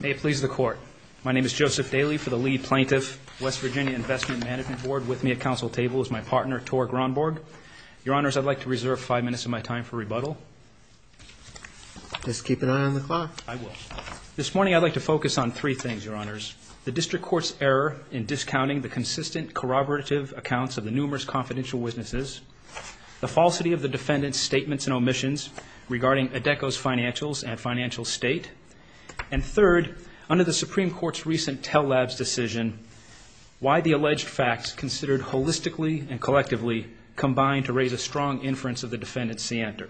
May it please the Court. My name is Joseph Daly for the Lee Plaintiff. West Virginia Investment Management Board. With me at council table is my partner, Tor Gronborg. Your Honors, I'd like to reserve five minutes of my time for rebuttal. Just keep an eye on the clock. I will. This morning I'd like to focus on three things, Your Honors. The District Court's error in discounting the consistent, corroborative accounts of the numerous confidential witnesses. The falsity of the defendant's statements and omissions regarding Adecco's financials and financial state. And third, under the Supreme Court's recent tell-labs decision, why the alleged facts considered holistically and collectively combined to raise a strong inference of the defendant's seantor.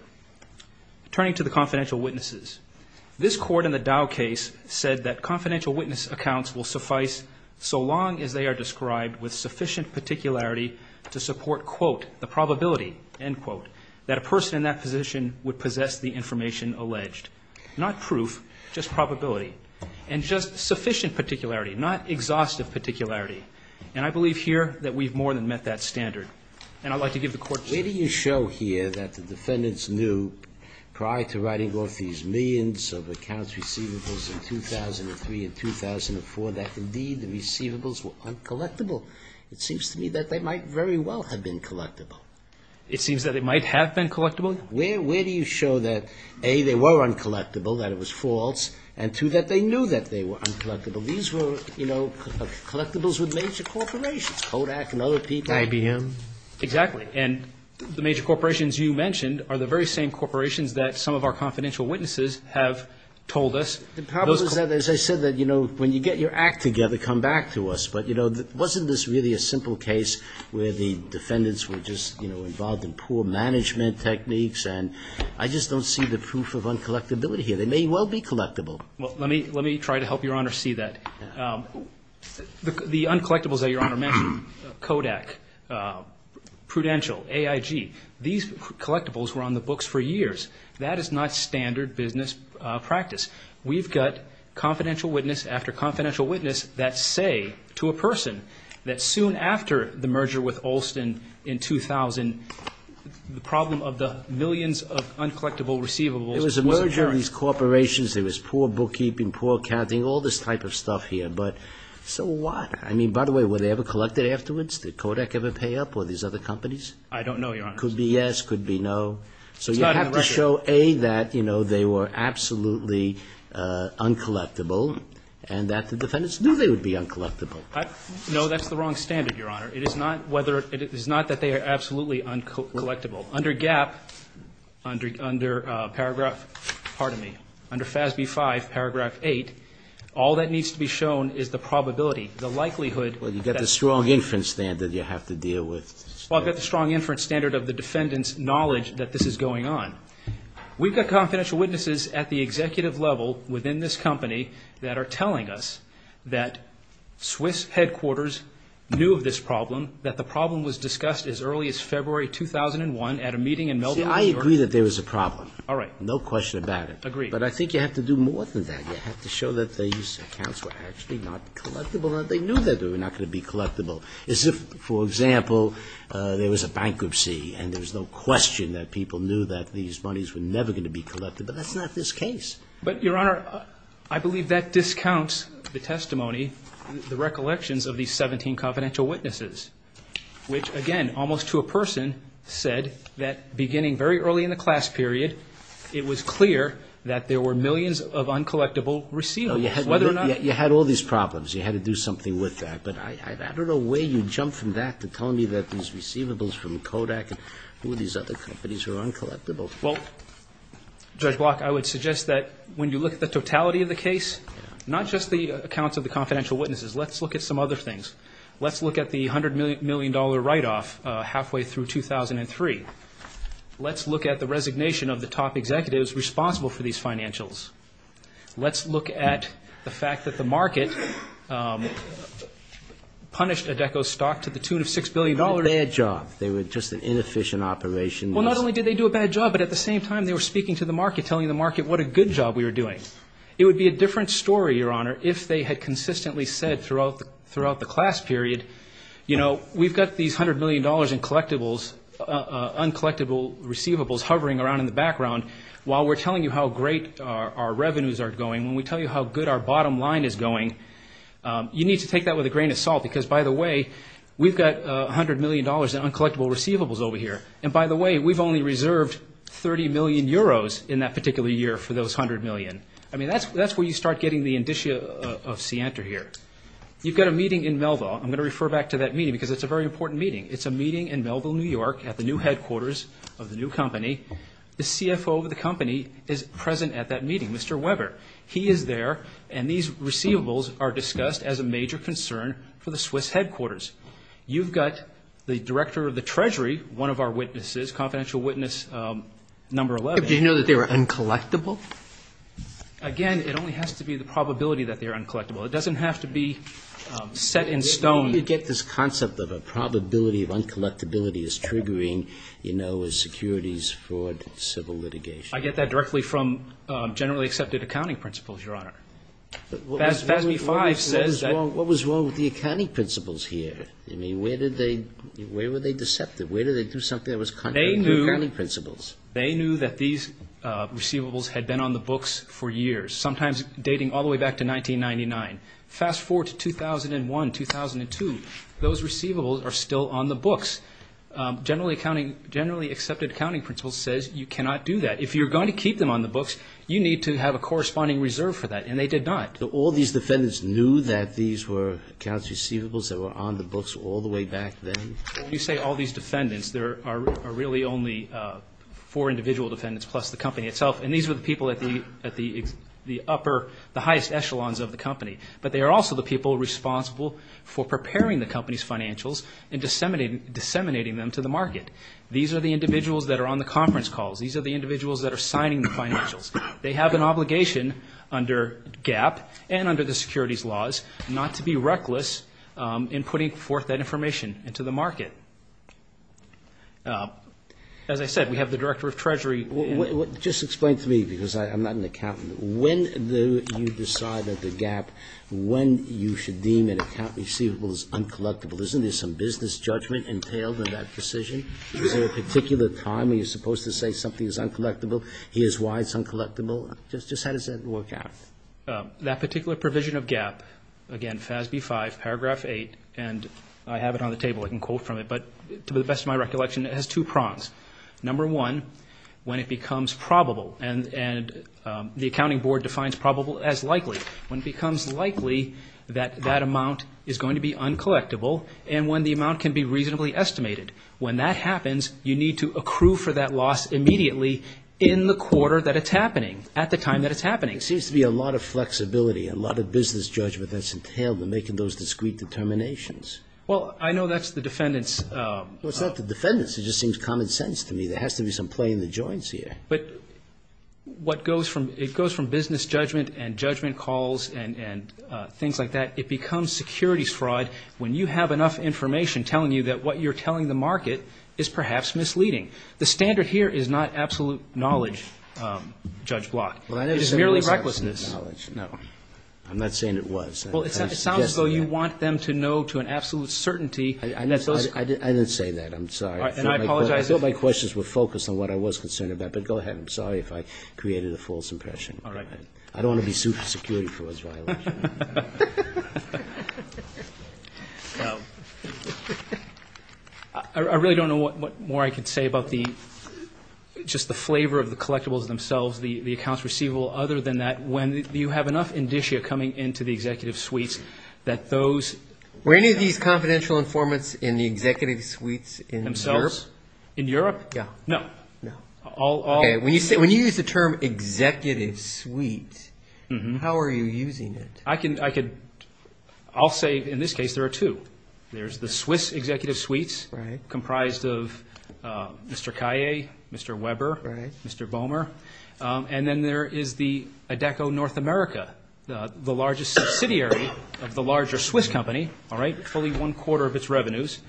Turning to the confidential witnesses, this Court in the Dow case said that confidential witness accounts will suffice so long as they are described with sufficient particularity to support, quote, the probability, end quote, that a person in that position would possess the information alleged. Not proof, just probability. And just sufficient particularity, not exhaustive particularity. And I believe here that we've more than met that standard. Where do you show here that the defendants knew, prior to writing off these millions of accounts receivables in 2003 and 2004, that indeed the receivables were uncollectible? It seems to me that they might very well have been collectible. It seems that they might have been collectible? Where do you show that, A, they were uncollectible, that it was false, and two, that they knew that they were uncollectible? These were, you know, collectibles with major corporations, Kodak and other people. IBM? Exactly. And the major corporations you mentioned are the very same corporations that some of our confidential witnesses have told us. The problem is that, as I said, that, you know, when you get your act together, come back to us. But, you know, wasn't this really a simple case where the defendants were just, you know, involved in poor management techniques? And I just don't see the proof of uncollectibility here. They may well be collectible. Well, let me try to help Your Honor see that. The uncollectibles that Your Honor mentioned, Kodak, Prudential, AIG, these collectibles were on the books for years. That is not standard business practice. We've got confidential witness after confidential witness that say to a person that soon after the merger with Olson in 2000, the problem of the millions of uncollectible receivables was apparent. There was a merger of these corporations. There was poor bookkeeping, poor accounting, all this type of stuff here. But so what? I mean, by the way, were they ever collected afterwards? Did Kodak ever pay up or these other companies? I don't know, Your Honor. Could be yes, could be no. It's not in the record. So you have to show, A, that, you know, they were absolutely uncollectible and that the defendants knew they would be uncollectible. No, that's the wrong standard, Your Honor. It is not whether, it is not that they are absolutely uncollectible. Under GAAP, under paragraph, pardon me, under FASB 5, paragraph 8, all that needs to be shown is the probability, the likelihood that Well, you've got the strong inference standard you have to deal with. Well, I've got the strong inference standard of the defendants' knowledge that this is going on. We've got confidential witnesses at the executive level within this company that are telling us that Swiss headquarters knew of this problem, that the problem was discussed as early as February 2001 at a meeting in Melbourne, New York See, I agree that there was a problem. All right. No question about it. Agreed. But I think you have to do more than that. You have to show that these accounts were actually not collectible, that they knew they were not going to be collectible. As if, for example, there was a bankruptcy and there's no question that people knew that these monies were never going to be collected. But that's not this case. But, Your Honor, I believe that discounts the testimony, the recollections of these 17 confidential witnesses, which, again, almost to a person, said that beginning very early in the class period, it was clear that there were millions of uncollectible receivables. You had all these problems. You had to do something with that. But I don't know where you'd jump from that to tell me that these receivables from Kodak and all these other companies were uncollectible. Well, Judge Block, I would suggest that when you look at the totality of the case, not just the accounts of the confidential witnesses, let's look at some other things. Let's look at the $100 million write-off halfway through 2003. Let's look at the resignation of the top executives responsible for these financials. Let's look at the fact that the market punished Adeko's stock to the tune of $6 billion. It was a bad job. They were just an inefficient operation. Well, not only did they do a bad job, but at the same time, they were speaking to the market, telling the market what a good job we were doing. It would be a different story, Your Honor, if they had consistently said throughout the class period, you know, we've got these $100 million in collectibles, uncollectible receivables hovering around in the background. While we're telling you how great our revenues are going, when we tell you how good our bottom line is going, you need to take that with a grain of salt. Because, by the way, we've got $100 million in uncollectible receivables over here. And, by the way, we've only reserved 30 million euros in that particular year for those 100 million. I mean, that's where you start getting the indicia of scienter here. You've got a meeting in Melville. I'm going to refer back to that meeting because it's a very important meeting. It's a meeting in Melville, New York, at the new headquarters of the new company. The CFO of the company is present at that meeting, Mr. Weber. He is there, and these receivables are discussed as a major concern for the Swiss headquarters. You've got the director of the treasury, one of our witnesses, confidential witness number 11. Do you know that they were uncollectible? Again, it only has to be the probability that they are uncollectible. It doesn't have to be set in stone. You get this concept of a probability of uncollectibility is triggering, you know, securities, fraud, civil litigation. I get that directly from generally accepted accounting principles, Your Honor. FASB-5 says that What was wrong with the accounting principles here? I mean, where were they deceptive? Where did they do something that was contrary to accounting principles? They knew that these receivables had been on the books for years, sometimes dating all the way back to 1999. Fast forward to 2001, 2002. Those receivables are still on the books. Generally accepted accounting principle says you cannot do that. If you're going to keep them on the books, you need to have a corresponding reserve for that, and they did not. So all these defendants knew that these were accounts receivables that were on the books all the way back then? When you say all these defendants, there are really only four individual defendants plus the company itself, and these were the people at the upper, the highest echelons of the company. But they are also the people responsible for preparing the company's financials and disseminating them to the market. These are the individuals that are on the conference calls. These are the individuals that are signing the financials. They have an obligation under GAAP and under the securities laws not to be reckless in putting forth that information into the market. As I said, we have the Director of Treasury. Just explain to me, because I'm not an accountant. When do you decide at the GAAP when you should deem an account receivable as uncollectible? Isn't there some business judgment entailed in that decision? Is there a particular time when you're supposed to say something is uncollectible? Here's why it's uncollectible. Just how does that work out? That particular provision of GAAP, again, FASB 5, paragraph 8, and I have it on the table. I can quote from it. But to the best of my recollection, it has two prongs. Number one, when it becomes probable, and the accounting board defines probable as likely. When it becomes likely that that amount is going to be uncollectible and when the amount can be reasonably estimated. When that happens, you need to accrue for that loss immediately in the quarter that it's happening, at the time that it's happening. There seems to be a lot of flexibility, a lot of business judgment that's entailed in making those discreet determinations. Well, I know that's the defendant's. Well, it's not the defendant's. It just seems common sense to me. There has to be some play in the joints here. But what goes from business judgment and judgment calls and things like that, it becomes securities fraud. When you have enough information telling you that what you're telling the market is perhaps misleading. The standard here is not absolute knowledge, Judge Block. It is merely recklessness. I'm not saying it was. Well, it sounds as though you want them to know to an absolute certainty. I didn't say that. I'm sorry. And I apologize. I thought my questions were focused on what I was concerned about. But go ahead. I'm sorry if I created a false impression. All right. I don't want to be sued for security fraud. I really don't know what more I could say about just the flavor of the collectibles themselves, the accounts receivable. Other than that, when you have enough indicia coming into the executive suites that those. Were any of these confidential informants in the executive suites in Europe? Themselves? In Europe? Yeah. No. No. When you use the term executive suite, how are you using it? I'll say in this case there are two. There's the Swiss executive suites comprised of Mr. Kaye, Mr. Weber, Mr. Bomer. And then there is the ADECO North America, the largest subsidiary of the larger Swiss company, all right, fully one quarter of its revenues.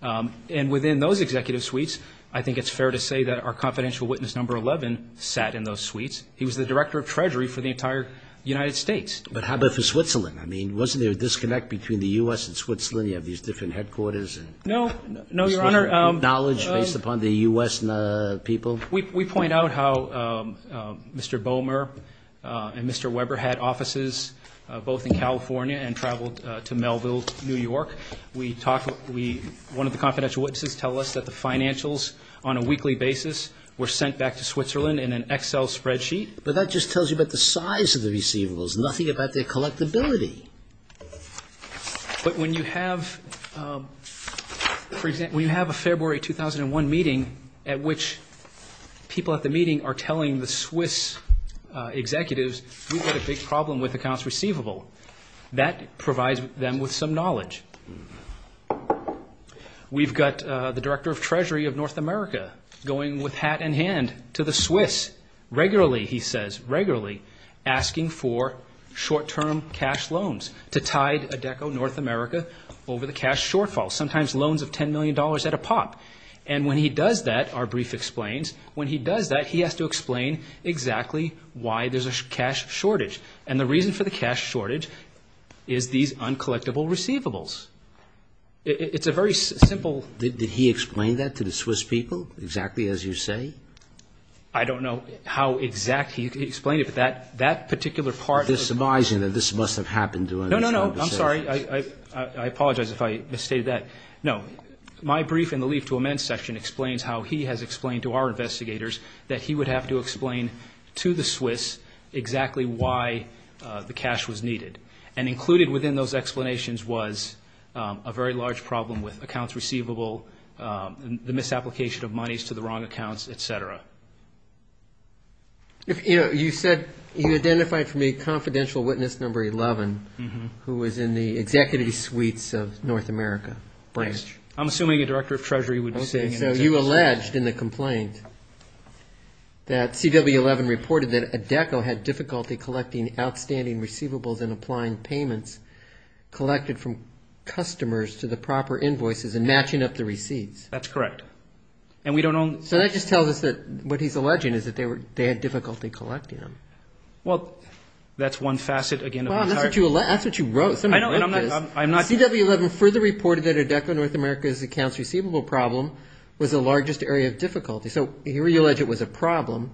And within those executive suites, I think it's fair to say that our confidential witness number 11 sat in those suites. He was the director of treasury for the entire United States. But how about for Switzerland? I mean, wasn't there a disconnect between the U.S. and Switzerland? You have these different headquarters. No. No, Your Honor. Knowledge based upon the U.S. people? We point out how Mr. Bomer and Mr. Weber had offices both in California and traveled to Melville, New York. One of the confidential witnesses tell us that the financials on a weekly basis were sent back to Switzerland in an Excel spreadsheet. But that just tells you about the size of the receivables, nothing about their collectability. But when you have a February 2001 meeting at which people at the meeting are telling the Swiss executives, we've got a big problem with accounts receivable, that provides them with some knowledge. We've got the director of treasury of North America going with hat in hand to the Swiss regularly, he says, regularly asking for short-term cash loans to tide ADECO North America over the cash shortfall, sometimes loans of $10 million at a pop. And when he does that, our brief explains, when he does that, he has to explain exactly why there's a cash shortage. And the reason for the cash shortage is these uncollectible receivables. It's a very simple ---- Did he explain that to the Swiss people, exactly as you say? I don't know how exactly he explained it, but that particular part of the ---- You're surmising that this must have happened to him. No, no, no. I'm sorry. I apologize if I misstated that. No. My brief in the leave to amend section explains how he has explained to our investigators that he would have to explain to the Swiss exactly why the cash was needed. And included within those explanations was a very large problem with accounts receivable, the misapplication of monies to the wrong accounts, et cetera. You said you identified from a confidential witness number 11 who was in the executive suites of North America. Right. I'm assuming a director of treasury would be saying that. So you alleged in the complaint that CW11 reported that ADECO had difficulty collecting outstanding receivables and applying payments collected from customers to the proper invoices and matching up the receipts. That's correct. And we don't own ---- So that just tells us that what he's alleging is that they had difficulty collecting them. Well, that's one facet, again, of the entire ---- That's what you wrote. Somebody wrote this. I'm not ---- CW11 further reported that ADECO North America's accounts receivable problem was the largest area of difficulty. So here you allege it was a problem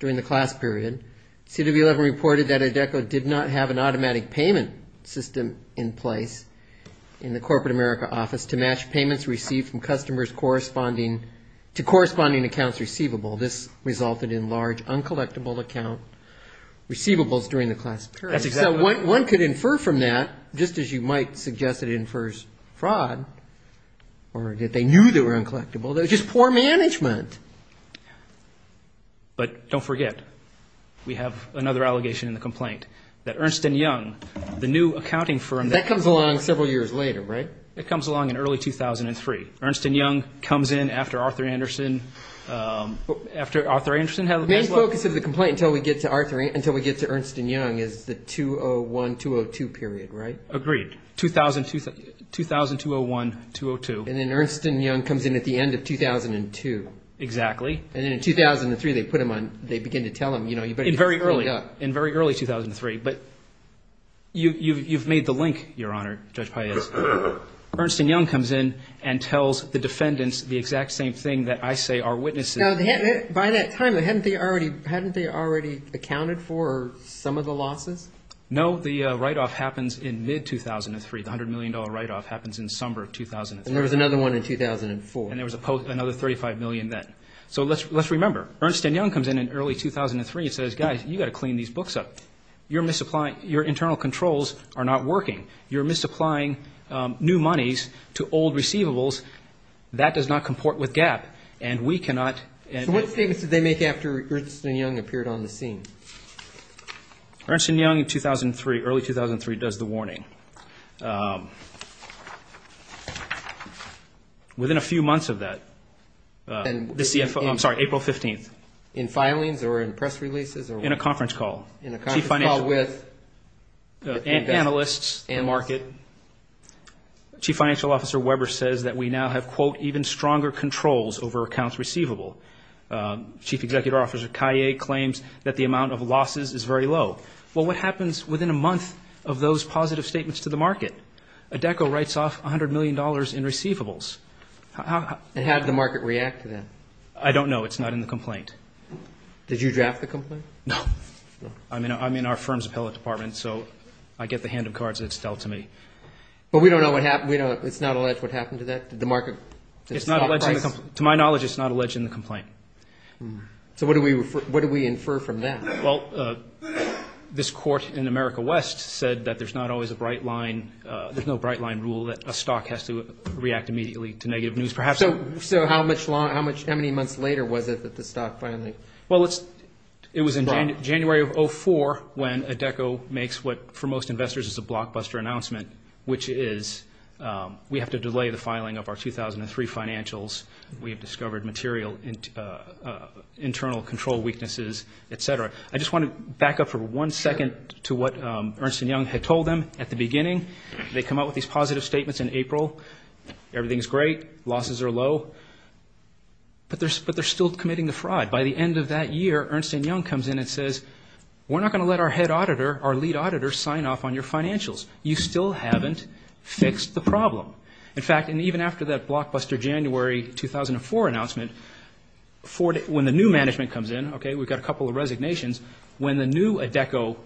during the class period. CW11 reported that ADECO did not have an automatic payment system in place in the corporate America office to match payments received from customers corresponding to corresponding accounts receivable. This resulted in large, uncollectible account receivables during the class period. That's exactly right. So one could infer from that, just as you might suggest it infers fraud, or that they knew they were uncollectible, that it was just poor management. But don't forget, we have another allegation in the complaint, that Ernst & Young, the new accounting firm that ---- That comes along several years later, right? It comes along in early 2003. Ernst & Young comes in after Arthur Anderson, after Arthur Anderson ---- The main focus of the complaint until we get to Ernst & Young is the 2001-2002 period, right? Agreed. 2000-2001-2002. And then Ernst & Young comes in at the end of 2002. Exactly. And then in 2003, they put them on, they begin to tell them, you know, you better get this cleaned up. In very early 2003. But you've made the link, Your Honor, Judge Paez. Ernst & Young comes in and tells the defendants the exact same thing that I say our witnesses ---- Now, by that time, hadn't they already accounted for some of the losses? No, the write-off happens in mid-2003. The $100 million write-off happens in summer of 2003. And there was another one in 2004. And there was another $35 million then. So let's remember, Ernst & Young comes in in early 2003 and says, guys, you've got to clean these books up. Your internal controls are not working. You're misapplying new monies to old receivables. That does not comport with GAAP. And we cannot ---- So what statements did they make after Ernst & Young appeared on the scene? Ernst & Young in 2003, early 2003, does the warning. Within a few months of that, the CFO, I'm sorry, April 15th. In filings or in press releases? In a conference call. In a conference call with? Analysts, the market. Chief Financial Officer Weber says that we now have, quote, even stronger controls over accounts receivable. Chief Executive Officer Kaye claims that the amount of losses is very low. Well, what happens within a month of those positive statements to the market? ADECO writes off $100 million in receivables. And how did the market react to that? I don't know. It's not in the complaint. Did you draft the complaint? No. I'm in our firm's appellate department, so I get the hand of cards that it's dealt to me. But we don't know what happened. It's not alleged what happened to that? Did the market? It's not alleged in the complaint. To my knowledge, it's not alleged in the complaint. So what do we infer from that? Well, this court in America West said that there's not always a bright line. There's no bright line rule that a stock has to react immediately to negative news. So how many months later was it that the stock finally? Well, it was in January of 2004 when ADECO makes what for most investors is a blockbuster announcement, which is we have to delay the filing of our 2003 financials. We have discovered material internal control weaknesses, et cetera. I just want to back up for one second to what Ernst & Young had told them at the beginning. They come out with these positive statements in April. Everything is great. Losses are low. But they're still committing the fraud. By the end of that year, Ernst & Young comes in and says, we're not going to let our head auditor, our lead auditor, sign off on your financials. You still haven't fixed the problem. In fact, and even after that blockbuster January 2004 announcement, when the new management comes in, okay, we've got a couple of resignations, when the new ADECO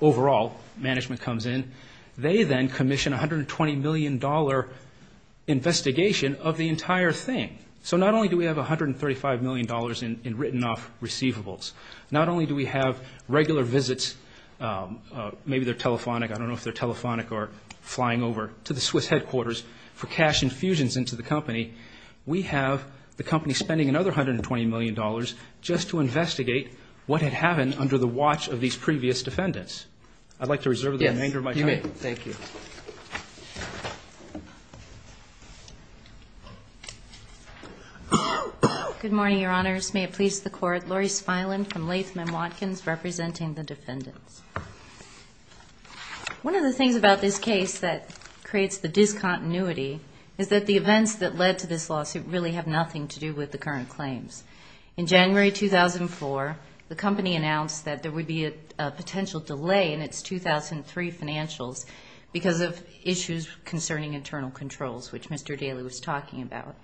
overall management comes in, they then commission $120 million investigation of the entire thing. So not only do we have $135 million in written-off receivables, not only do we have regular visits, maybe they're telephonic, I don't know if they're telephonic, or flying over to the Swiss headquarters for cash infusions into the company, we have the company spending another $120 million just to investigate what had happened under the watch of these previous defendants. I'd like to reserve the remainder of my time. All right. Thank you. Good morning, Your Honors. May it please the Court. Laurie Spilan from Latham & Watkins representing the defendants. One of the things about this case that creates the discontinuity is that the events that led to this lawsuit really have nothing to do with the current claims. In January 2004, the company announced that there would be a potential delay in its 2003 financials because of issues concerning internal controls, which Mr. Daley was talking about.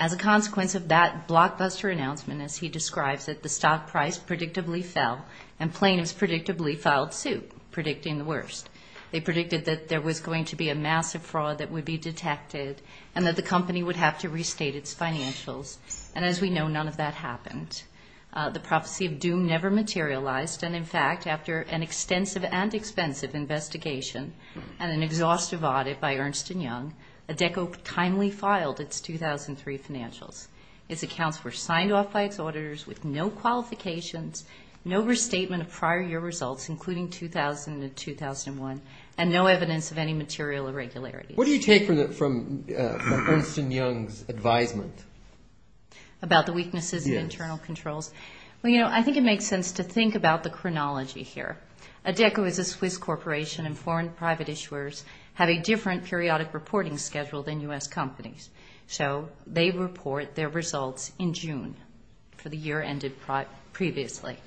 As a consequence of that blockbuster announcement, as he describes, that the stock price predictably fell and plaintiffs predictably filed suit, predicting the worst. They predicted that there was going to be a massive fraud that would be detected and that the company would have to restate its financials. And as we know, none of that happened. The prophecy of doom never materialized and, in fact, after an extensive and expensive investigation and an exhaustive audit by Ernst & Young, ADECO timely filed its 2003 financials. Its accounts were signed off by its auditors with no qualifications, no restatement of prior year results, including 2000 and 2001, and no evidence of any material irregularities. What do you take from Ernst & Young's advisement? About the weaknesses in internal controls? Well, you know, I think it makes sense to think about the chronology here. ADECO is a Swiss corporation and foreign private issuers have a different periodic reporting schedule than U.S. companies. So they report their results in June for the year ended previously.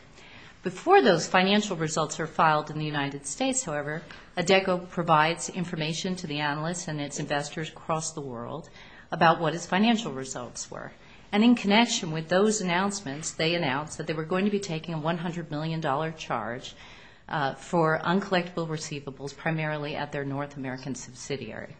Before those financial results are filed in the United States, however, ADECO provides information to the analysts and its investors across the world about what its financial results were. And in connection with those announcements, they announced that they were going to be taking a $100 million charge for uncollectible receivables primarily at their North American subsidiary.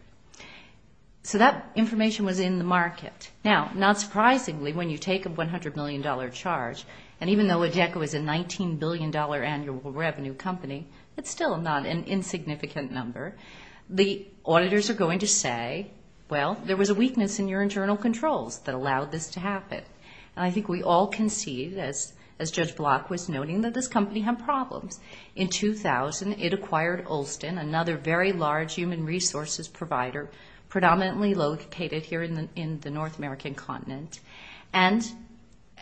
So that information was in the market. Now, not surprisingly, when you take a $100 million charge, and even though ADECO is a $19 billion annual revenue company, it's still not an insignificant number, the auditors are going to say, well, there was a weakness in your internal controls that allowed this to happen. And I think we all can see this, as Judge Block was noting, that this company had problems. In 2000, it acquired Olson, another very large human resources provider, predominantly located here in the North American continent. And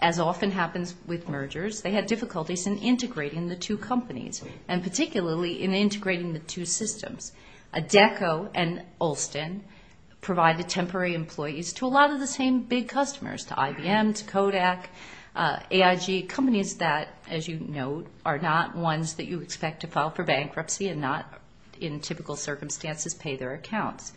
as often happens with mergers, they had difficulties in integrating the two companies, and particularly in integrating the two systems. ADECO and Olson provided temporary employees to a lot of the same big customers, to IBM, to Kodak, AIG, companies that, as you know, are not ones that you expect to file for bankruptcy and not in typical circumstances pay their accounts.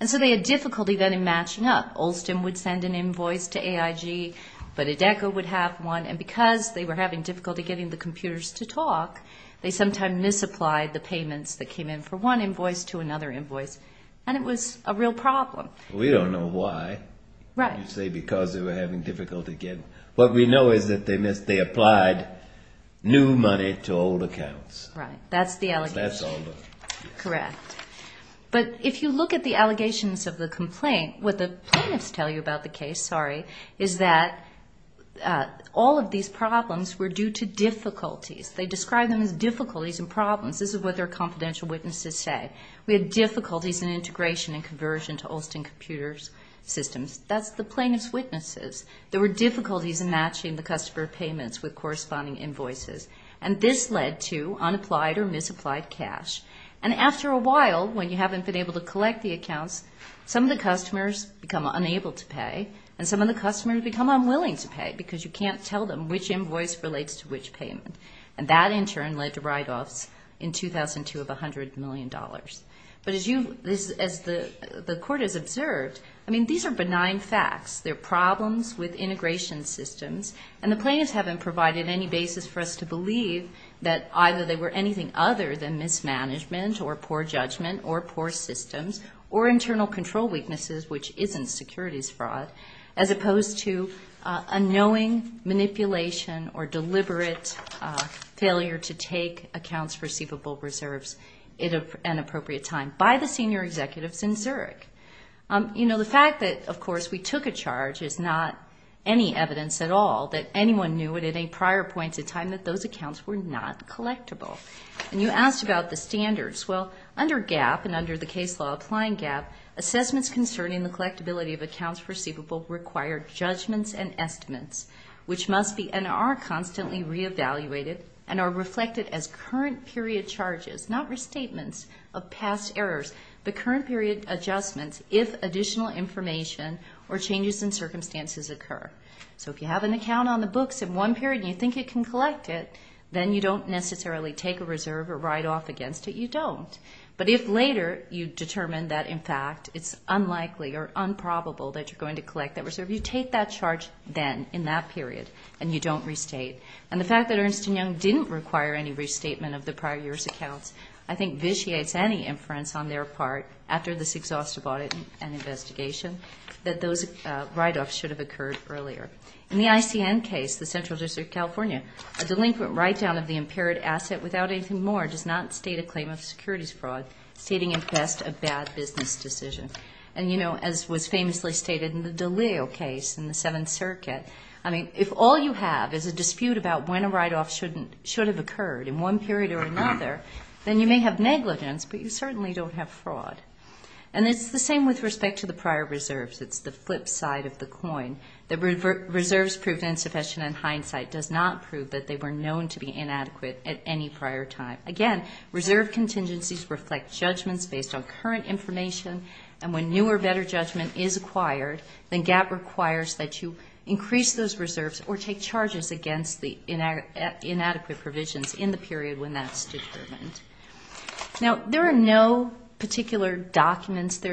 And so they had difficulty then in matching up. Olson would send an invoice to AIG, but ADECO would have one, and because they were having difficulty getting the computers to talk, they sometimes misapplied the payments that came in for one invoice to another invoice. And it was a real problem. We don't know why you say because they were having difficulty getting. What we know is that they applied new money to old accounts. Right. That's the allegation. Correct. But if you look at the allegations of the complaint, what the plaintiffs tell you about the case, sorry, is that all of these problems were due to difficulties. They describe them as difficulties and problems. This is what their confidential witnesses say. We had difficulties in integration and conversion to Olson Computer Systems. That's the plaintiff's witnesses. There were difficulties in matching the customer payments with corresponding invoices, and this led to unapplied or misapplied cash. And after a while, when you haven't been able to collect the accounts, some of the customers become unable to pay and some of the customers become unwilling to pay because you can't tell them which invoice relates to which payment. And that, in turn, led to write-offs in 2002 of $100 million. But as the court has observed, I mean, these are benign facts. They're problems with integration systems, and the plaintiffs haven't provided any basis for us to believe that either they were anything other than mismanagement or poor judgment or poor systems or internal control weaknesses, which isn't securities fraud, as opposed to unknowing manipulation or deliberate failure to take accounts receivable reserves at an appropriate time by the senior executives in Zurich. You know, the fact that, of course, we took a charge is not any evidence at all that anyone knew at any prior point in time that those accounts were not collectible. And you asked about the standards. Well, under GAAP and under the case law applying GAAP, assessments concerning the collectibility of accounts receivable require judgments and estimates, which must be and are constantly re-evaluated and are reflected as current period charges, not restatements of past errors, but current period adjustments if additional information or changes in circumstances occur. So if you have an account on the books at one period and you think you can collect it, then you don't necessarily take a reserve or write-off against it. You don't. But if later you determine that, in fact, it's unlikely or unprobable that you're going to collect that reserve, you take that charge then in that period and you don't restate. And the fact that Ernst & Young didn't require any restatement of the prior year's accounts I think vitiates any inference on their part after this exhaustive audit and investigation that those write-offs should have occurred earlier. In the ICN case, the Central District of California, a delinquent write-down of the impaired asset without anything more does not state a claim of securities fraud, stating at best a bad business decision. And, you know, as was famously stated in the Daleo case in the Seventh Circuit, I mean, if all you have is a dispute about when a write-off should have occurred in one period or another, then you may have negligence, but you certainly don't have fraud. And it's the same with respect to the prior reserves. It's the flip side of the coin. The reserves proved insufficient in hindsight does not prove that they were known to be inadequate at any prior time. Again, reserve contingencies reflect judgments based on current information, and when new or better judgment is acquired, then GAAP requires that you increase those reserves or take charges against the inadequate provisions in the period when that's determined. Now, there are no particular documents. What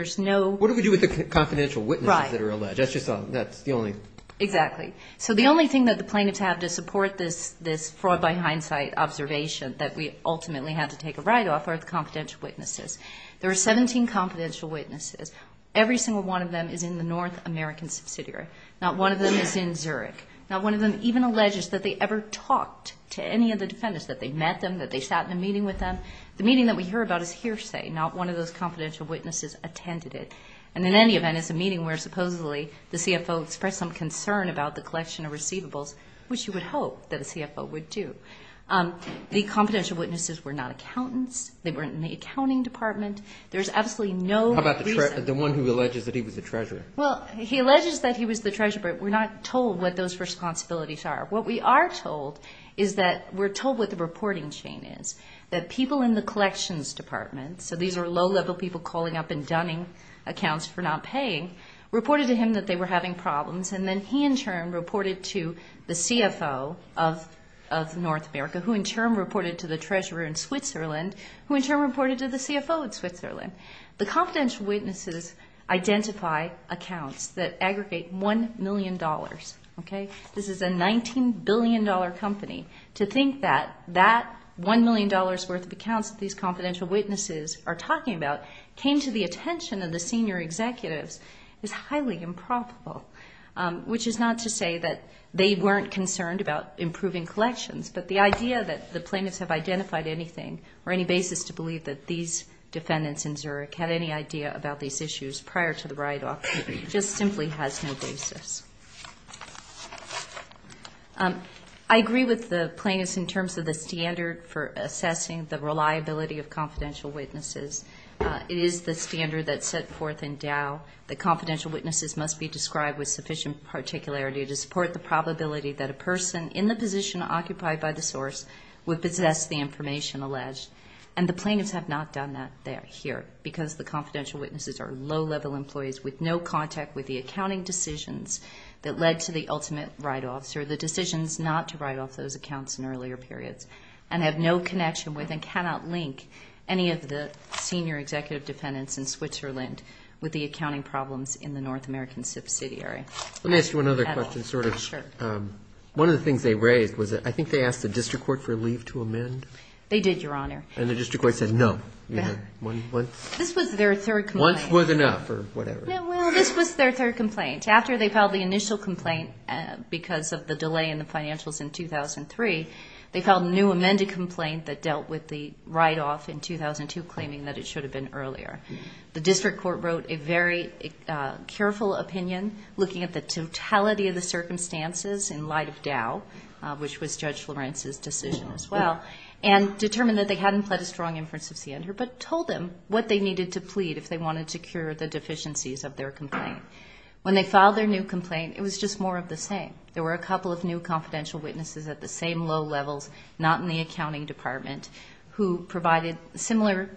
do we do with the confidential witnesses that are alleged? Exactly. So the only thing that the plaintiffs have to support this fraud by hindsight observation that we ultimately have to take a write-off are the confidential witnesses. There are 17 confidential witnesses. Every single one of them is in the North American subsidiary. Not one of them is in Zurich. Not one of them even alleges that they ever talked to any of the defendants, that they met them, that they sat in a meeting with them. The meeting that we hear about is hearsay. Not one of those confidential witnesses attended it. And in any event, it's a meeting where supposedly the CFO expressed some concern about the collection of receivables, which you would hope that a CFO would do. The confidential witnesses were not accountants. They weren't in the accounting department. There's absolutely no reason. How about the one who alleges that he was the treasurer? Well, he alleges that he was the treasurer, but we're not told what those responsibilities are. What we are told is that we're told what the reporting chain is, that people in the collections department, so these are low-level people calling up and dunning accounts for not paying, reported to him that they were having problems, and then he in turn reported to the CFO of North America, who in turn reported to the treasurer in Switzerland, who in turn reported to the CFO in Switzerland. The confidential witnesses identify accounts that aggregate $1 million. This is a $19 billion company. To think that that $1 million worth of accounts that these confidential witnesses are talking about came to the attention of the senior executives is highly improbable, which is not to say that they weren't concerned about improving collections, but the idea that the plaintiffs have identified anything or any basis to believe that these defendants in Zurich had any idea about these issues prior to the write-off just simply has no basis. I agree with the plaintiffs in terms of the standard for assessing the reliability of confidential witnesses. It is the standard that's set forth in Dow that confidential witnesses must be described with sufficient particularity to support the probability that a person in the position occupied by the source would possess the information alleged, and the plaintiffs have not done that here because the confidential witnesses are low-level employees with no contact with the accounting decisions that led to the ultimate write-offs or the decisions not to write off those accounts in earlier periods and have no connection with and cannot link any of the senior executive defendants in Switzerland with the accounting problems in the North American subsidiary. Let me ask you one other question. One of the things they raised was that I think they asked the district court for leave to amend. They did, Your Honor. And the district court said no. This was their third complaint. Once was enough or whatever. Well, this was their third complaint. After they filed the initial complaint because of the delay in the financials in 2003, they filed a new amended complaint that dealt with the write-off in 2002 claiming that it should have been earlier. The district court wrote a very careful opinion looking at the totality of the circumstances in light of Dow, which was Judge Lorenz's decision as well, and determined that they hadn't pled a strong inference of ciander but told them what they needed to plead if they wanted to cure the deficiencies of their complaint. When they filed their new complaint, it was just more of the same. There were a couple of new confidential witnesses at the same low levels, not in the accounting department, who provided similar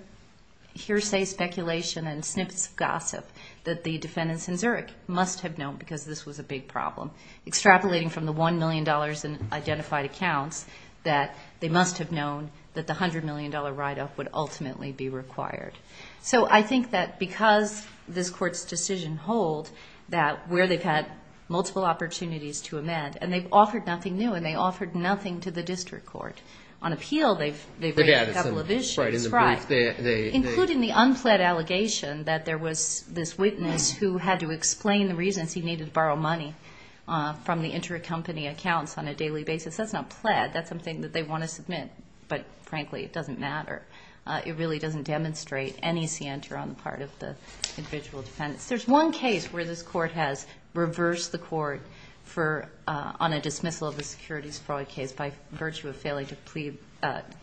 hearsay speculation and snippets of gossip that the defendants in Zurich must have known because this was a big problem, extrapolating from the $1 million in identified accounts that they must have known that the $100 million write-off would ultimately be required. So I think that because this Court's decision hold that where they've had multiple opportunities to amend, and they've offered nothing new, and they've offered nothing to the district court, on appeal they've made a couple of issues, including the unpled allegation that there was this witness who had to explain the reasons he needed to borrow money from the inter-company accounts on a daily basis. That's not pled, that's something that they want to submit, but frankly it doesn't matter. It really doesn't demonstrate any scienter on the part of the individual defendants. There's one case where this Court has reversed the Court on a dismissal of a securities fraud case by virtue of failing to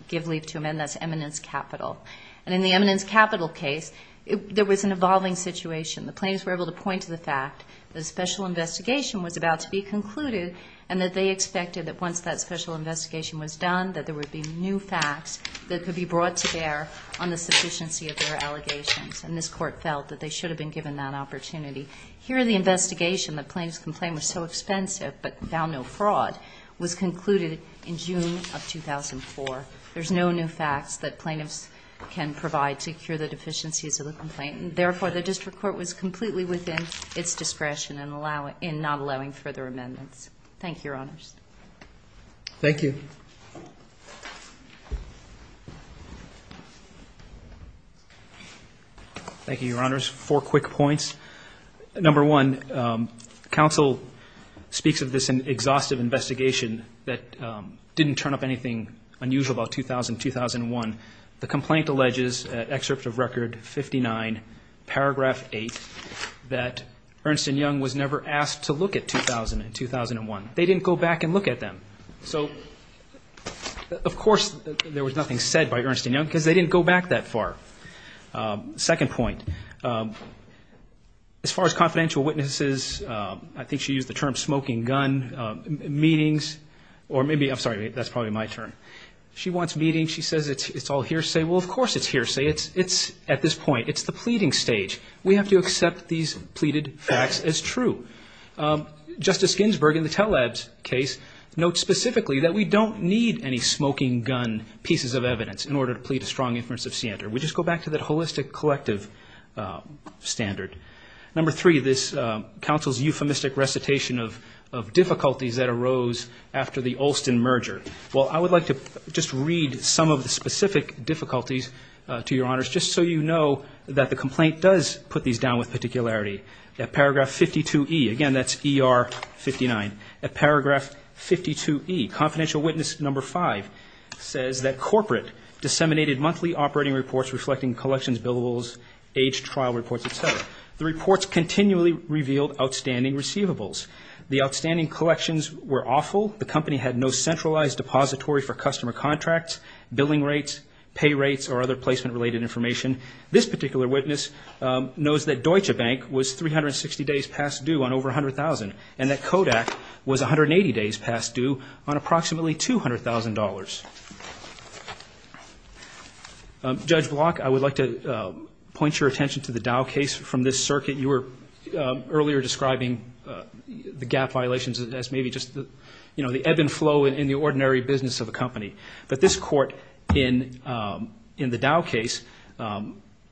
give leave to amend. That's Eminence Capital. And in the Eminence Capital case, there was an evolving situation. The plaintiffs were able to point to the fact that a special investigation was about to be concluded and that they expected that once that special investigation was done that there would be new facts that could be brought to bear on the sufficiency of their allegations, and this Court felt that they should have been given that opportunity. Here the investigation, the plaintiff's complaint was so expensive but found no fraud, was concluded in June of 2004. There's no new facts that plaintiffs can provide to cure the deficiencies of the complaint, and therefore the district court was completely within its discretion in not allowing further amendments. Thank you, Your Honors. Thank you. Thank you, Your Honors. Four quick points. Number one, counsel speaks of this exhaustive investigation that didn't turn up anything unusual about 2000-2001. The complaint alleges, excerpt of Record 59, Paragraph 8, that Ernst & Young was never asked to look at 2000 and 2001. They didn't go back and look at them. So, of course, there was nothing said by Ernst & Young because they didn't go back that far. Second point, as far as confidential witnesses, I think she used the term smoking gun, meetings, or maybe, I'm sorry, that's probably my turn. She wants meetings. She says it's all hearsay. Well, of course it's hearsay. At this point, it's the pleading stage. We have to accept these pleaded facts as true. Justice Ginsburg, in the Telabs case, notes specifically that we don't need any smoking gun pieces of evidence in order to plead a strong inference of standard. We just go back to that holistic collective standard. Number three, this counsel's euphemistic recitation of difficulties that arose after the Olson merger. Well, I would like to just read some of the specific difficulties, to Your Honors, just so you know that the complaint does put these down with particularity. At paragraph 52E, again, that's ER 59. At paragraph 52E, confidential witness number five says that corporate disseminated monthly operating reports reflecting collections, billables, age trial reports, et cetera. The reports continually revealed outstanding receivables. The outstanding collections were awful. The company had no centralized depository for customer contracts, billing rates, pay rates, or other placement-related information. This particular witness knows that Deutsche Bank was 360 days past due on over $100,000 and that Kodak was 180 days past due on approximately $200,000. Judge Block, I would like to point your attention to the Dow case from this circuit. You were earlier describing the gap violations as maybe just the ebb and flow in the ordinary business of a company. But this court in the Dow case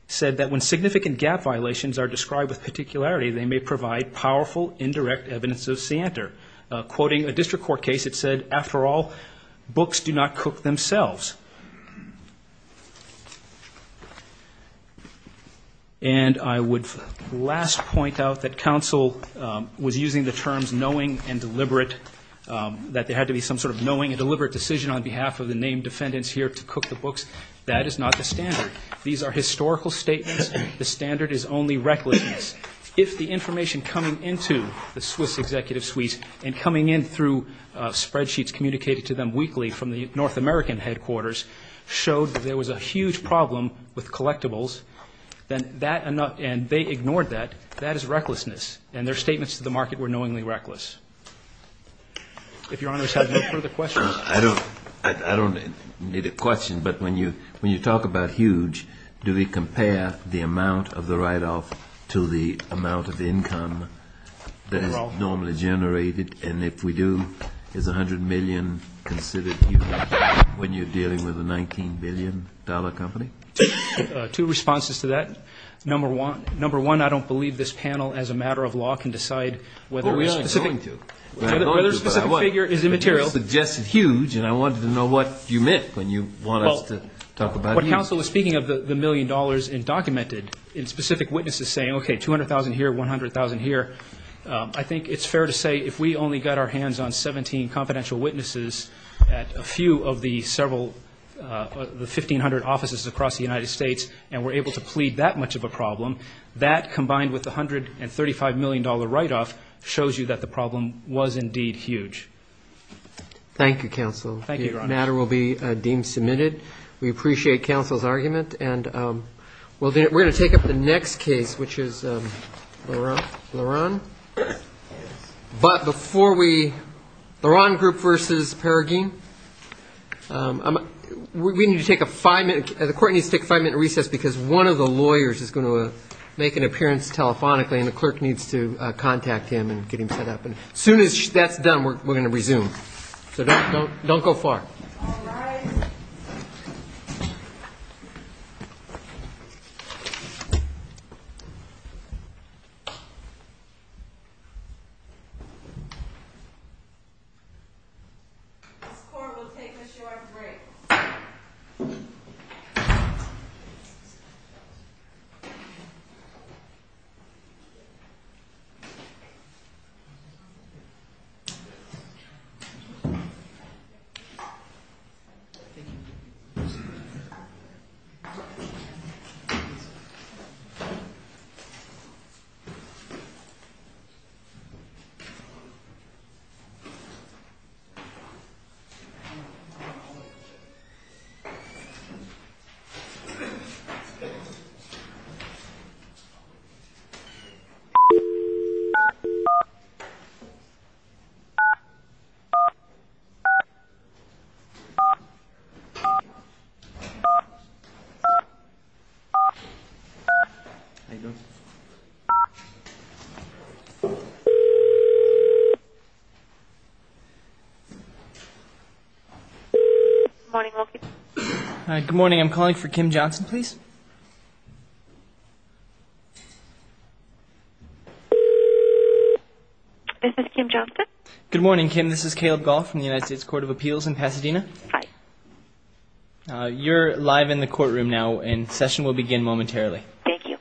said that when significant gap violations are described with particularity, they may provide powerful indirect evidence of scienter. Quoting a district court case, it said, after all, books do not cook themselves. And I would last point out that counsel was using the terms knowing and deliberate, that there had to be some sort of knowing and deliberate decision on behalf of the named defendants here to cook the books. That is not the standard. These are historical statements. The standard is only recklessness. If the information coming into the Swiss executive suites and coming in through spreadsheets communicated to them weekly from the North American headquarters showed that there was a huge problem with collectibles, and they ignored that, that is recklessness. And their statements to the market were knowingly reckless. If Your Honor has no further questions. I don't need a question, but when you talk about huge, do we compare the amount of the write-off to the amount of income that is normally generated? And if we do, is $100 million considered huge when you're dealing with a $19 billion company? Two responses to that. Number one, I don't believe this panel, as a matter of law, can decide whether a specific figure is immaterial. But you suggested huge, and I wanted to know what you meant when you wanted us to talk about huge. But counsel, speaking of the million dollars in documented, in specific witnesses saying, okay, $200,000 here, $100,000 here, I think it's fair to say if we only got our hands on 17 confidential witnesses at a few of the several 1,500 offices across the United States and were able to plead that much of a problem, that combined with the $135 million write-off shows you that the problem was indeed huge. Thank you, counsel. Thank you, Your Honor. The matter will be deemed submitted. We appreciate counsel's argument. And we're going to take up the next case, which is Laron. But before we, Laron group versus Paragin. We need to take a five-minute, the court needs to take a five-minute recess because one of the lawyers is going to make an appearance telephonically, and the clerk needs to contact him and get him set up. And as soon as that's done, we're going to resume. So don't go far. All right. Counsel's court will take a short break. Thank you. Good morning. Good morning. I'm calling for Kim Johnson, please. This is Kim Johnson. Good morning, Kim. This is Caleb Goff from the United States Court of Appeals in Pasadena. Hi. You're live in the courtroom now, and session will begin momentarily. Thank you. Thank you. Thank you. Thank you. Thank you. Thank you.